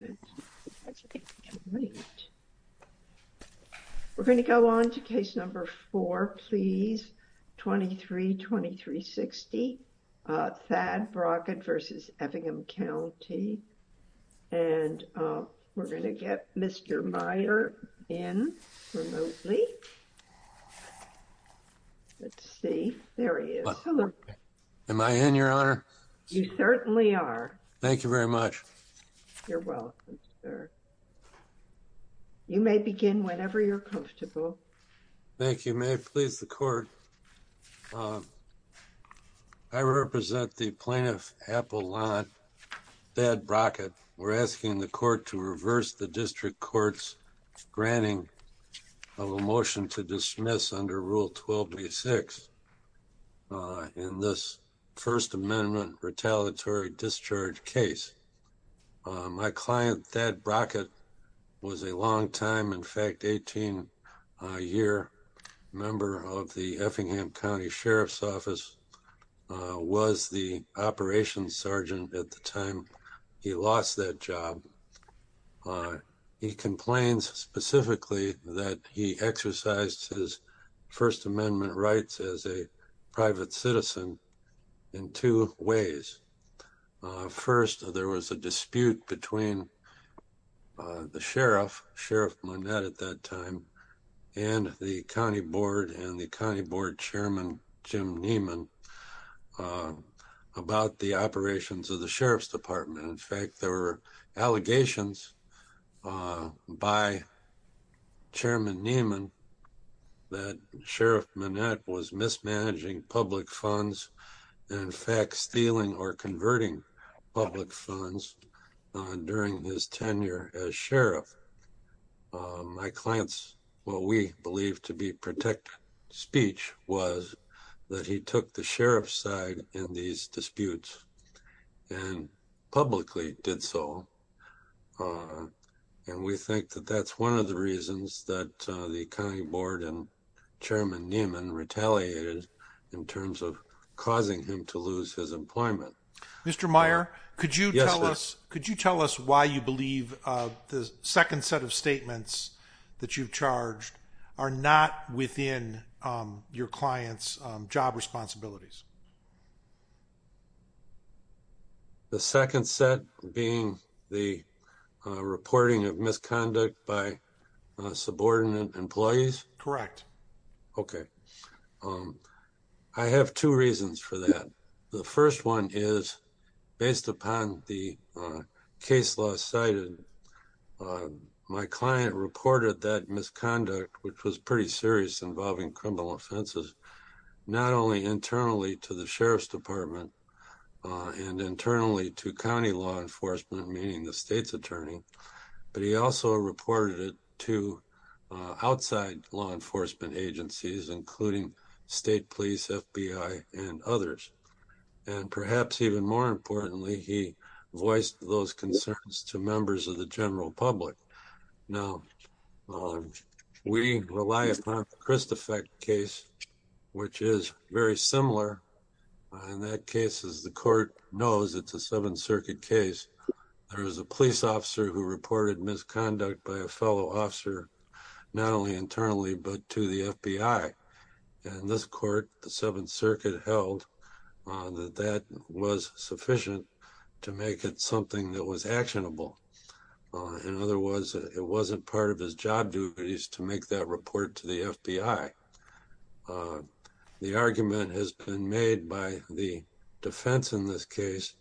We're going to go on to case number four, please, 23-2360, Thad Brockett v. Effingham County, and we're going to get Mr. Meyer in remotely. Let's see, there he is. Am I in, Your Honor? You certainly are. Thank you very much. You're welcome, sir. You may begin whenever you're comfortable. Thank you. May it please the court, I represent the plaintiff Appalachia Thad Brockett. We're asking the court to reverse the district courts granting of a motion to dismiss under Rule 1286 in this First Amendment retaliatory discharge case. My client Thad Brockett was a longtime, in fact, 18-year member of the Effingham County Sheriff's Office, was the operations sergeant at the time he lost that job. He complains specifically that he exercised his First Amendment rights as a private citizen in two ways. First, there was a dispute between the sheriff, Sheriff Monette at that time, and the county board and the county board chairman Jim Neiman about the operations of the Sheriff's Department. In fact, there were allegations by Chairman Neiman that Sheriff Monette was mismanaging public funds, in fact, stealing or converting public funds during his tenure as sheriff. My client's, what we believe to be protected speech, was that he took the sheriff's side in these disputes and publicly did so, and we think that that's one of the reasons that the county board and Chairman Neiman retaliated in terms of causing him to lose his employment. Mr. Meyer, could you tell us, could you tell us why you believe the second set of statements that you've charged are not within your clients job responsibilities? The second set being the reporting of misconduct by subordinate employees? Correct. Okay, I have two reasons for that. The first one is, based upon the case law cited, my client reported that misconduct, which was pretty serious involving criminal offenses, not only internally to the Sheriff's Department and internally to county law enforcement, meaning the state's attorney, but he also reported it to outside law enforcement agencies, including state police, FBI, and others. And perhaps even more importantly, he voiced those concerns to members of the county board. Now, we rely upon the Kristofek case, which is very similar. In that case, as the court knows, it's a Seventh Circuit case. There is a police officer who reported misconduct by a fellow officer, not only internally, but to the FBI. In this court, the Seventh Circuit held that that was sufficient to make it something that was not part of his job duties to make that report to the FBI. The argument has been made by the defense in this case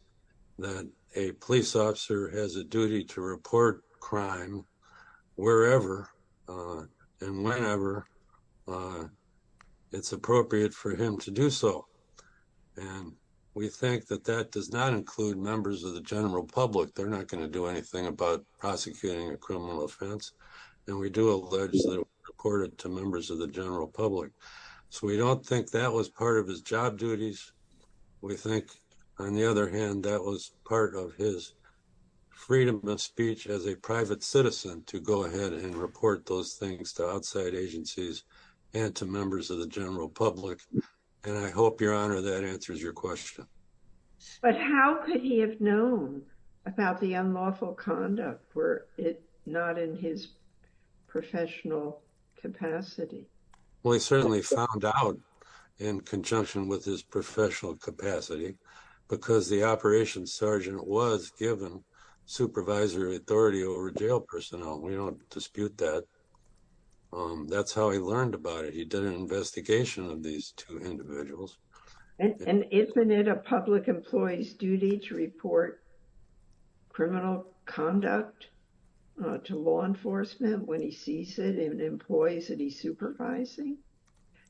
that a police officer has a duty to report crime wherever and whenever it's appropriate for him to do so. And we think that that does not include members of the general public. They're not going to do anything about prosecuting a criminal offense. And we do allege that it was reported to members of the general public. So we don't think that was part of his job duties. We think, on the other hand, that was part of his freedom of speech as a private citizen to go ahead and report those things to outside agencies and to members of the general public. And I hope, Your Honor, that answers your question. But how could he have known about the unlawful conduct were it not in his professional capacity? Well, he certainly found out in conjunction with his professional capacity because the operations sergeant was given supervisory authority over jail personnel. We don't dispute that. That's how he learned about it. He did an investigation of these two individuals. And isn't it a public employee's duty to report criminal conduct to law enforcement when he sees it in employees that he's supervising?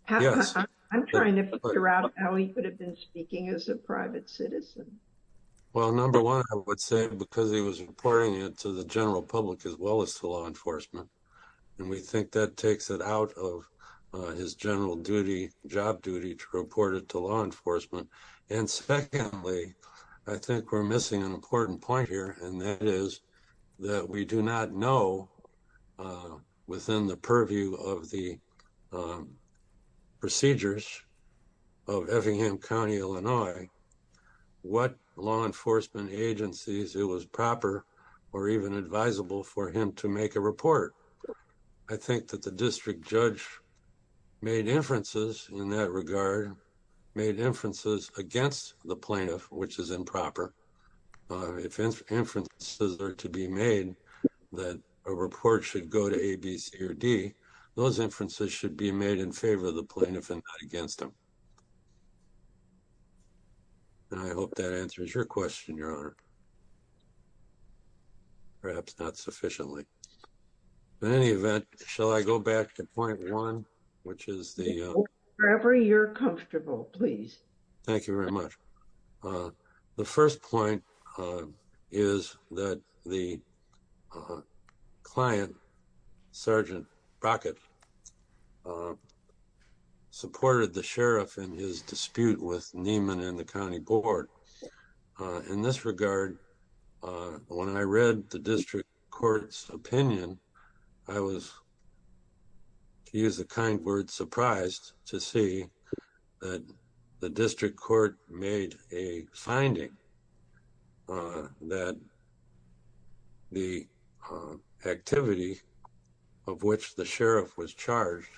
Yes. I'm trying to figure out how he could have been speaking as a private citizen. Well, number one, I would say because he was reporting it to the general public as well as to law enforcement. And we think that takes it out of his general duty, job duty, to report it to law enforcement. And secondly, I think we're missing an important point here, and that is that we do not know within the purview of the procedures of Effingham County, Illinois, what law enforcement agencies it was proper or even advisable for him to make a report. I think that a district judge made inferences in that regard, made inferences against the plaintiff, which is improper. If inferences are to be made that a report should go to A, B, C, or D, those inferences should be made in favor of the plaintiff and not against them. And I hope that answers your question, Your back to point one, which is the... Wherever you're comfortable, please. Thank you very much. The first point is that the client, Sergeant Brockett, supported the sheriff in his dispute with Neiman and the County Board. In this regard, when I read the district court's opinion, I was, to use a kind word, surprised to see that the district court made a finding that the activity of which the sheriff was charged,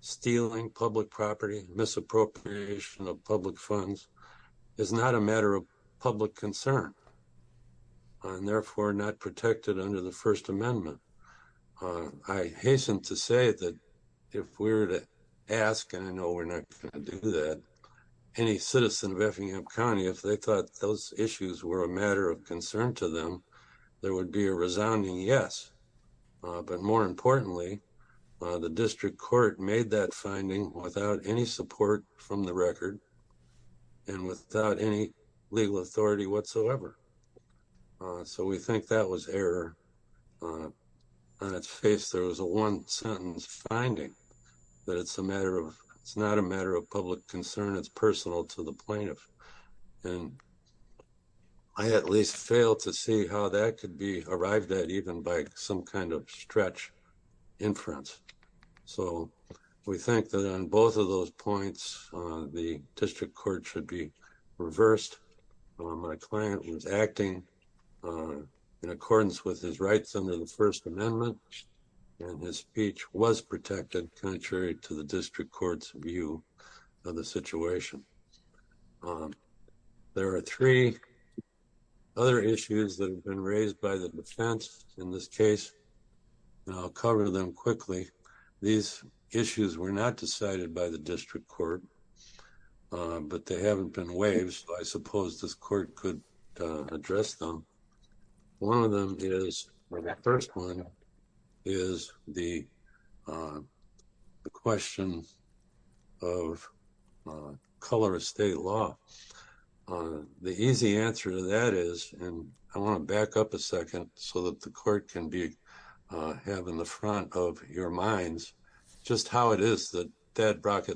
stealing public property, misappropriation of public funds, is not a matter of public concern and therefore not protected under the First Amendment. I hasten to say that if we were to ask, and I know we're not going to do that, any citizen of Effingham County, if they thought those issues were a matter of concern to them, there would be a resounding yes. But more importantly, the district court made that finding without any support from the record and without any legal authority whatsoever. So we think that was error on its face. There was a one-sentence finding that it's a matter of, it's not a matter of public concern, it's personal to the plaintiff. And I at least failed to see how that could be arrived at even by some kind of stretch inference. So we think that on my client was acting in accordance with his rights under the First Amendment and his speech was protected contrary to the district court's view of the situation. There are three other issues that have been raised by the defense in this case and I'll cover them quickly. These issues were not decided by the district court, but they haven't been waived, so I suppose this court could address them. One of them is, or that first one, is the question of color of state law. The easy answer to that is, and I want to back up a second so that the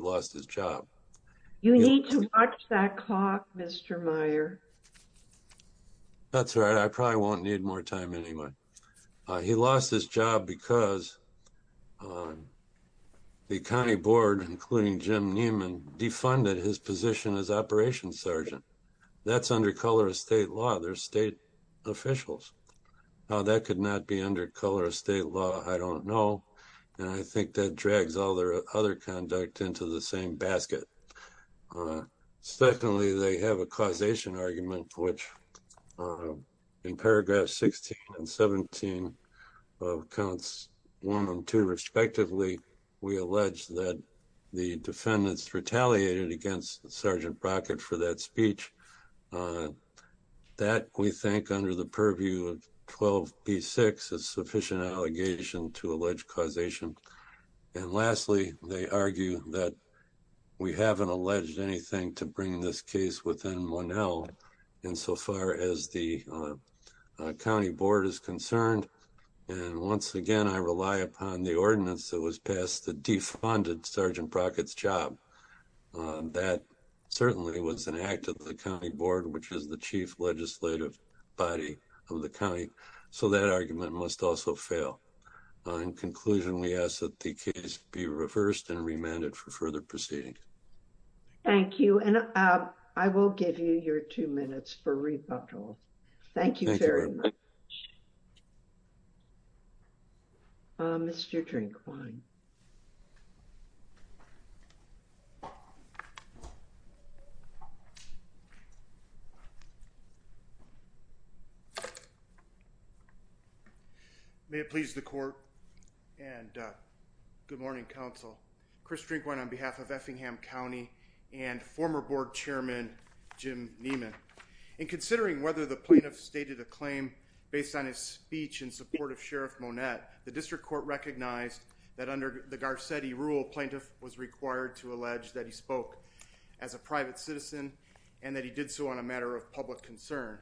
lost his job. You need to watch that clock, Mr. Meyer. That's right, I probably won't need more time anyway. He lost his job because the county board, including Jim Neiman, defunded his position as operations sergeant. That's under color of state law. They're state officials. Now that could not be under color of state law. I don't know and I think that drags all their other conduct into the same basket. Secondly, they have a causation argument which in paragraph 16 and 17 of counts 1 and 2 respectively, we allege that the defendants retaliated against Sergeant Brockett for that speech. That, we think, under the purview of 12b6 is sufficient allegation to allege causation. And lastly, they argue that we haven't alleged anything to bring this case within 1L insofar as the county board is concerned. And once again, I rely upon the ordinance that was passed that defunded Sergeant Brockett's job. That certainly was an act of the county board, which is the chief legislative body of the county. So that argument must also fail. In conclusion, we ask that the case be reversed and remanded for further proceeding. Thank you and I will give you your two minutes for rebuttal. Thank you very much. Mr. Drinkwine. May it please the court and good morning counsel. Chris Drinkwine on behalf of Effingham County and former board chairman Jim Niemann. In considering whether the plaintiff stated a claim based on his speech in support of Sheriff Monette, the district court recognized that under the Garcetti rule plaintiff was required to allege that he spoke as a private citizen and that he did so on a matter of public concern.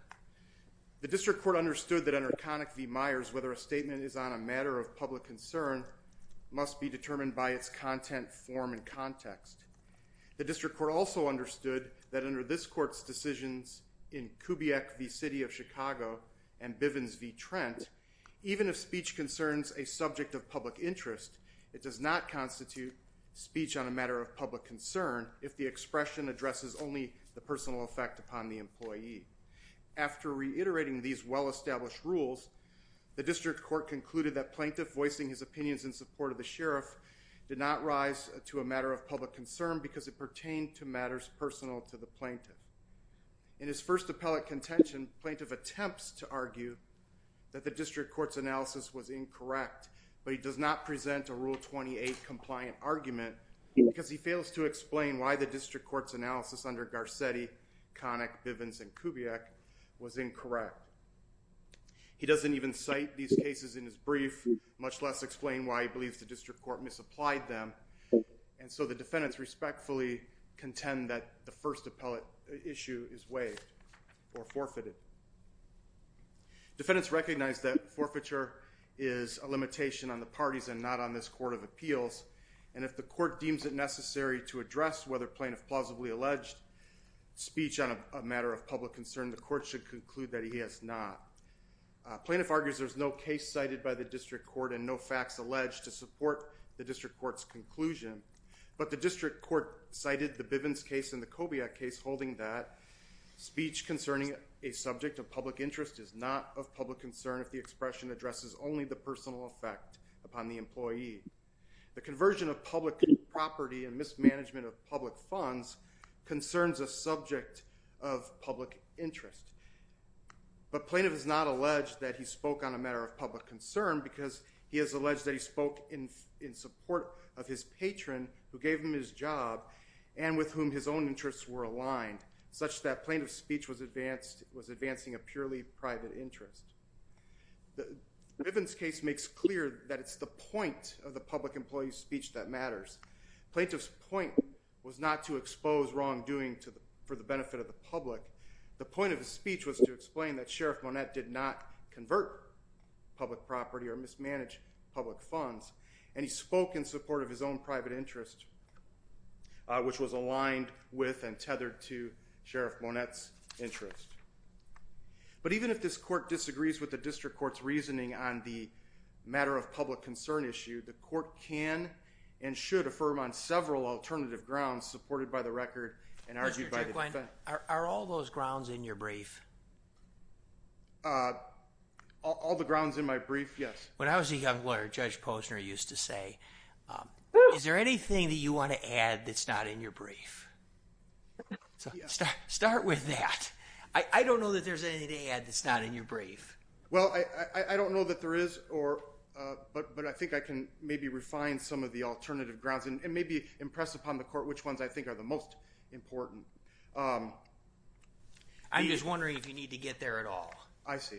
The district court understood that under Connick v. Myers, whether a statement is on a matter of public concern must be determined by its content, form, and context. The district court also recognized that in the case of the first decisions in Kubiak v. City of Chicago and Bivens v. Trent, even if speech concerns a subject of public interest, it does not constitute speech on a matter of public concern if the expression addresses only the personal effect upon the employee. After reiterating these well-established rules, the district court concluded that plaintiff voicing his opinions in support of the sheriff did not rise to a matter of public concern because it pertained to matters personal to the employee. In his first appellate contention, plaintiff attempts to argue that the district court's analysis was incorrect, but he does not present a Rule 28 compliant argument because he fails to explain why the district court's analysis under Garcetti, Connick, Bivens, and Kubiak was incorrect. He doesn't even cite these cases in his brief, much less explain why he believes the district court misapplied them, and so the defendants respectfully contend that the issue is waived or forfeited. Defendants recognize that forfeiture is a limitation on the parties and not on this Court of Appeals, and if the court deems it necessary to address whether plaintiff plausibly alleged speech on a matter of public concern, the court should conclude that he has not. Plaintiff argues there's no case cited by the district court and no facts alleged to support the district court's conclusion, but the district court cited the Bivens case and the Kubiak case holding that speech concerning a subject of public interest is not of public concern if the expression addresses only the personal effect upon the employee. The conversion of public property and mismanagement of public funds concerns a subject of public interest, but plaintiff is not alleged that he spoke on a matter of public concern because he has alleged that he spoke in in support of his patron who gave him his job and with whom his own interests were aligned, such that plaintiff's speech was advancing a purely private interest. The Bivens case makes clear that it's the point of the public employee's speech that matters. Plaintiff's point was not to expose wrongdoing for the benefit of the public. The point of his speech was to explain that Sheriff Monette did not convert public property or mismanage public funds, and he spoke in support of his own private interest which was aligned with and tethered to Sheriff Monette's interest. But even if this court disagrees with the district court's reasoning on the matter of public concern issue, the court can and should affirm on several alternative grounds supported by the record and argued by the defense. Are all those grounds in your brief? All the grounds in my brief, yes. When I was a young lawyer, Judge Posner used to say, is there anything that you want to add that's not in your brief? Start with that. I don't know that there's anything to add that's not in your brief. Well, I don't know that there is, but I think I can maybe refine some of the alternative grounds and maybe impress upon the court which ones I think are the most important. I'm just wondering if you need to get there at all. I see.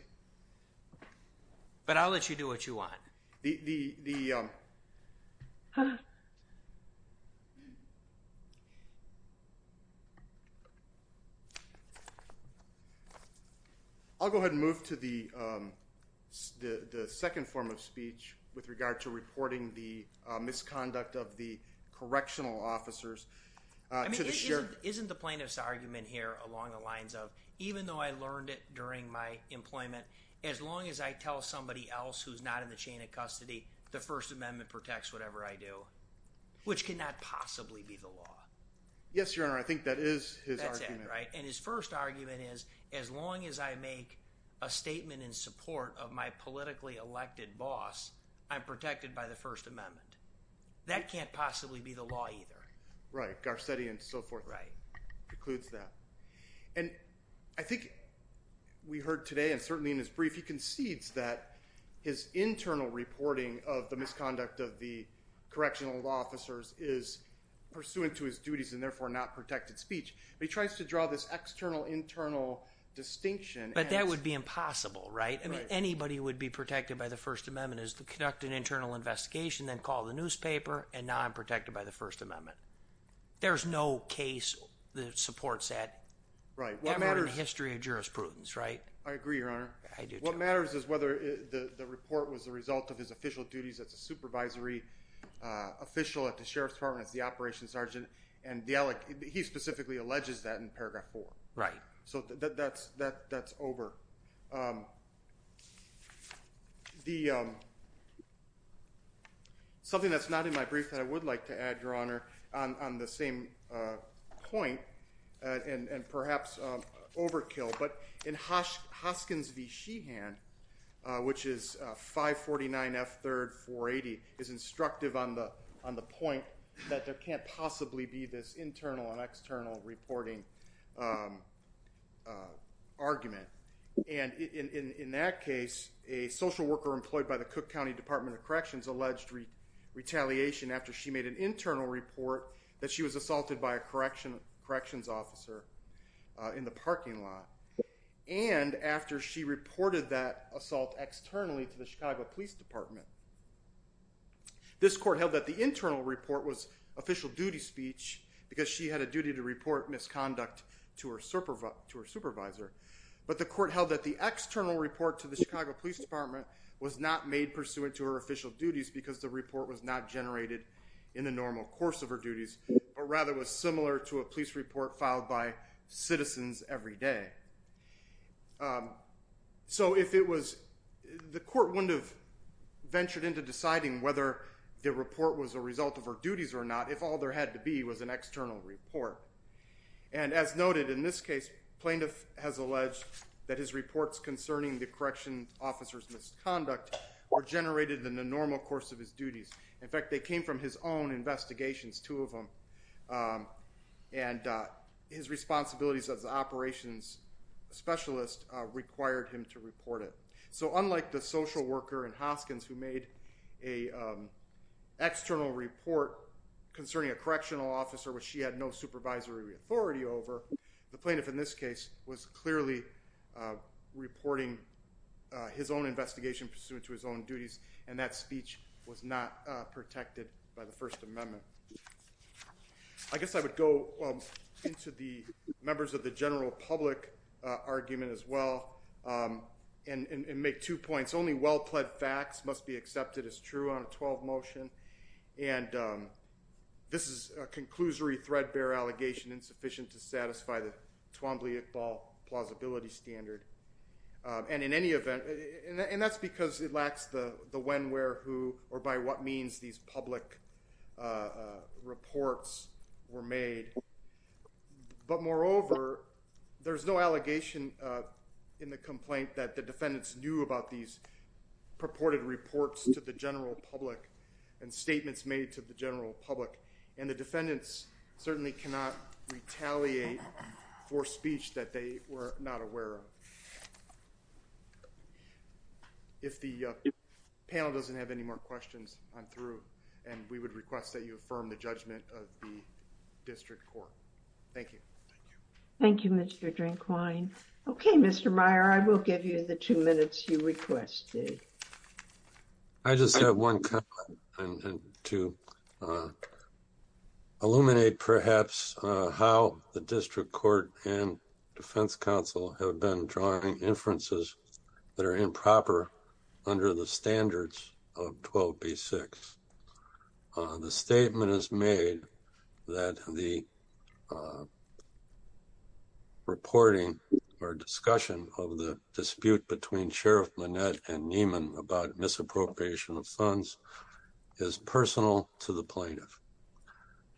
But I'll let you do what you want. I'll go ahead and move to the second form of speech with regard to reporting the misconduct of the correctional officers. Isn't the plaintiff's argument here along the lines of, even though I learned it during my employment, as long as I tell somebody else who's not in the chain of custody, the First Amendment protects whatever I do, which cannot possibly be the law. Yes, your honor. I think that is his argument. And his first argument is, as long as I make a statement in support of my politically elected boss, I'm protected by the First Amendment. That can't possibly be the law either. Right. Garcetti and so forth. Right. Concludes that. And I think we heard today, and certainly in his brief, he concedes that his internal reporting of the misconduct of the correctional law officers is pursuant to his duties and therefore not protected speech. He tries to draw this external internal distinction. But that would be impossible, right? I mean, anybody would be protected by the First Amendment is to conduct an internal investigation, then call the newspaper, and now I'm protected by the First Amendment. There's no case that supports that. Right. In the history of jurisprudence, right? I agree, your honor. What matters is whether the report was the result of his official duties as a supervisory official at the Sheriff's Department as the operations sergeant, and he specifically alleges that in paragraph 4. Right. So that's over. Something that's not in my brief that I would like to add, your honor, on the same point, and perhaps overkill, but in Hoskins v. Sheehan, which is 549 F. 3rd 480, is instructive on the point that there can't possibly be this And in that case, a social worker employed by the Cook County Department of Corrections alleged retaliation after she made an internal report that she was assaulted by a corrections officer in the parking lot, and after she reported that assault externally to the Chicago Police Department. This court held that the internal report was official duty speech because she had a duty to report misconduct to her supervisor, but the court held that the external report to the Chicago Police Department was not made pursuant to her official duties because the report was not generated in the normal course of her duties, but rather was similar to a police report filed by citizens every day. So if it was, the court wouldn't have ventured into deciding whether the report was a result of her duties or not if all there had to be was an external report. And as noted in this case, plaintiff has alleged that his reports concerning the corrections officer's misconduct were generated in the normal course of his duties. In fact, they came from his own investigations, two of them, and his responsibilities as the operations specialist required him to report it. So unlike the social worker in Hoskins who made a external report concerning a correctional officer which she had no supervisory authority over, the plaintiff in this case was clearly reporting his own investigation pursuant to his own duties and that speech was not protected by the First Amendment. I guess I would go into the members of the general public argument as well and make two points. Only well-pled facts must be accepted as true on a 12 motion and this is a conclusory threadbare allegation insufficient to satisfy the Twombly-Iqbal plausibility standard. And in any event, and that's because it lacks the when, where, who, or by what means these public reports were made. But moreover, there's no allegation in the complaint that the defendants knew about these purported reports to the general public and statements made to the general public. And the defendants certainly cannot retaliate for speech that they were not aware of. If the panel doesn't have any more questions, I'm through and we would request that you affirm the judgment of the district court. Thank you. Thank you, Mr. Drinkwine. Okay, Mr. Meyer, I will give you the two minutes you requested. I just have one comment to illuminate perhaps how the District Court and Defense Council have been drawing inferences that are improper under the standards of 12b-6. The statement is made that the reporting or and Nieman about misappropriation of funds is personal to the plaintiff.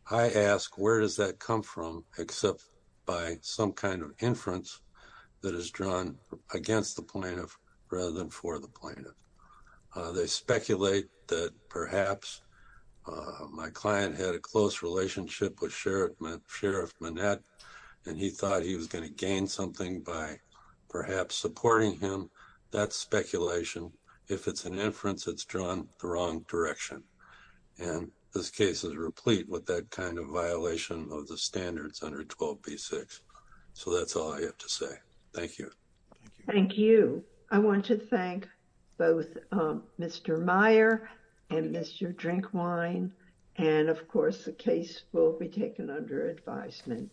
I ask where does that come from except by some kind of inference that is drawn against the plaintiff rather than for the plaintiff. They speculate that perhaps my client had a close relationship with Sheriff Manette and he thought he was going to gain something by perhaps supporting him. That speculation, if it's an inference, it's drawn the wrong direction and this case is replete with that kind of violation of the standards under 12b-6. So that's all I have to say. Thank you. Thank you. I want to thank both Mr. Meyer and Mr. Drinkwine and of course the case will be taken under advisement.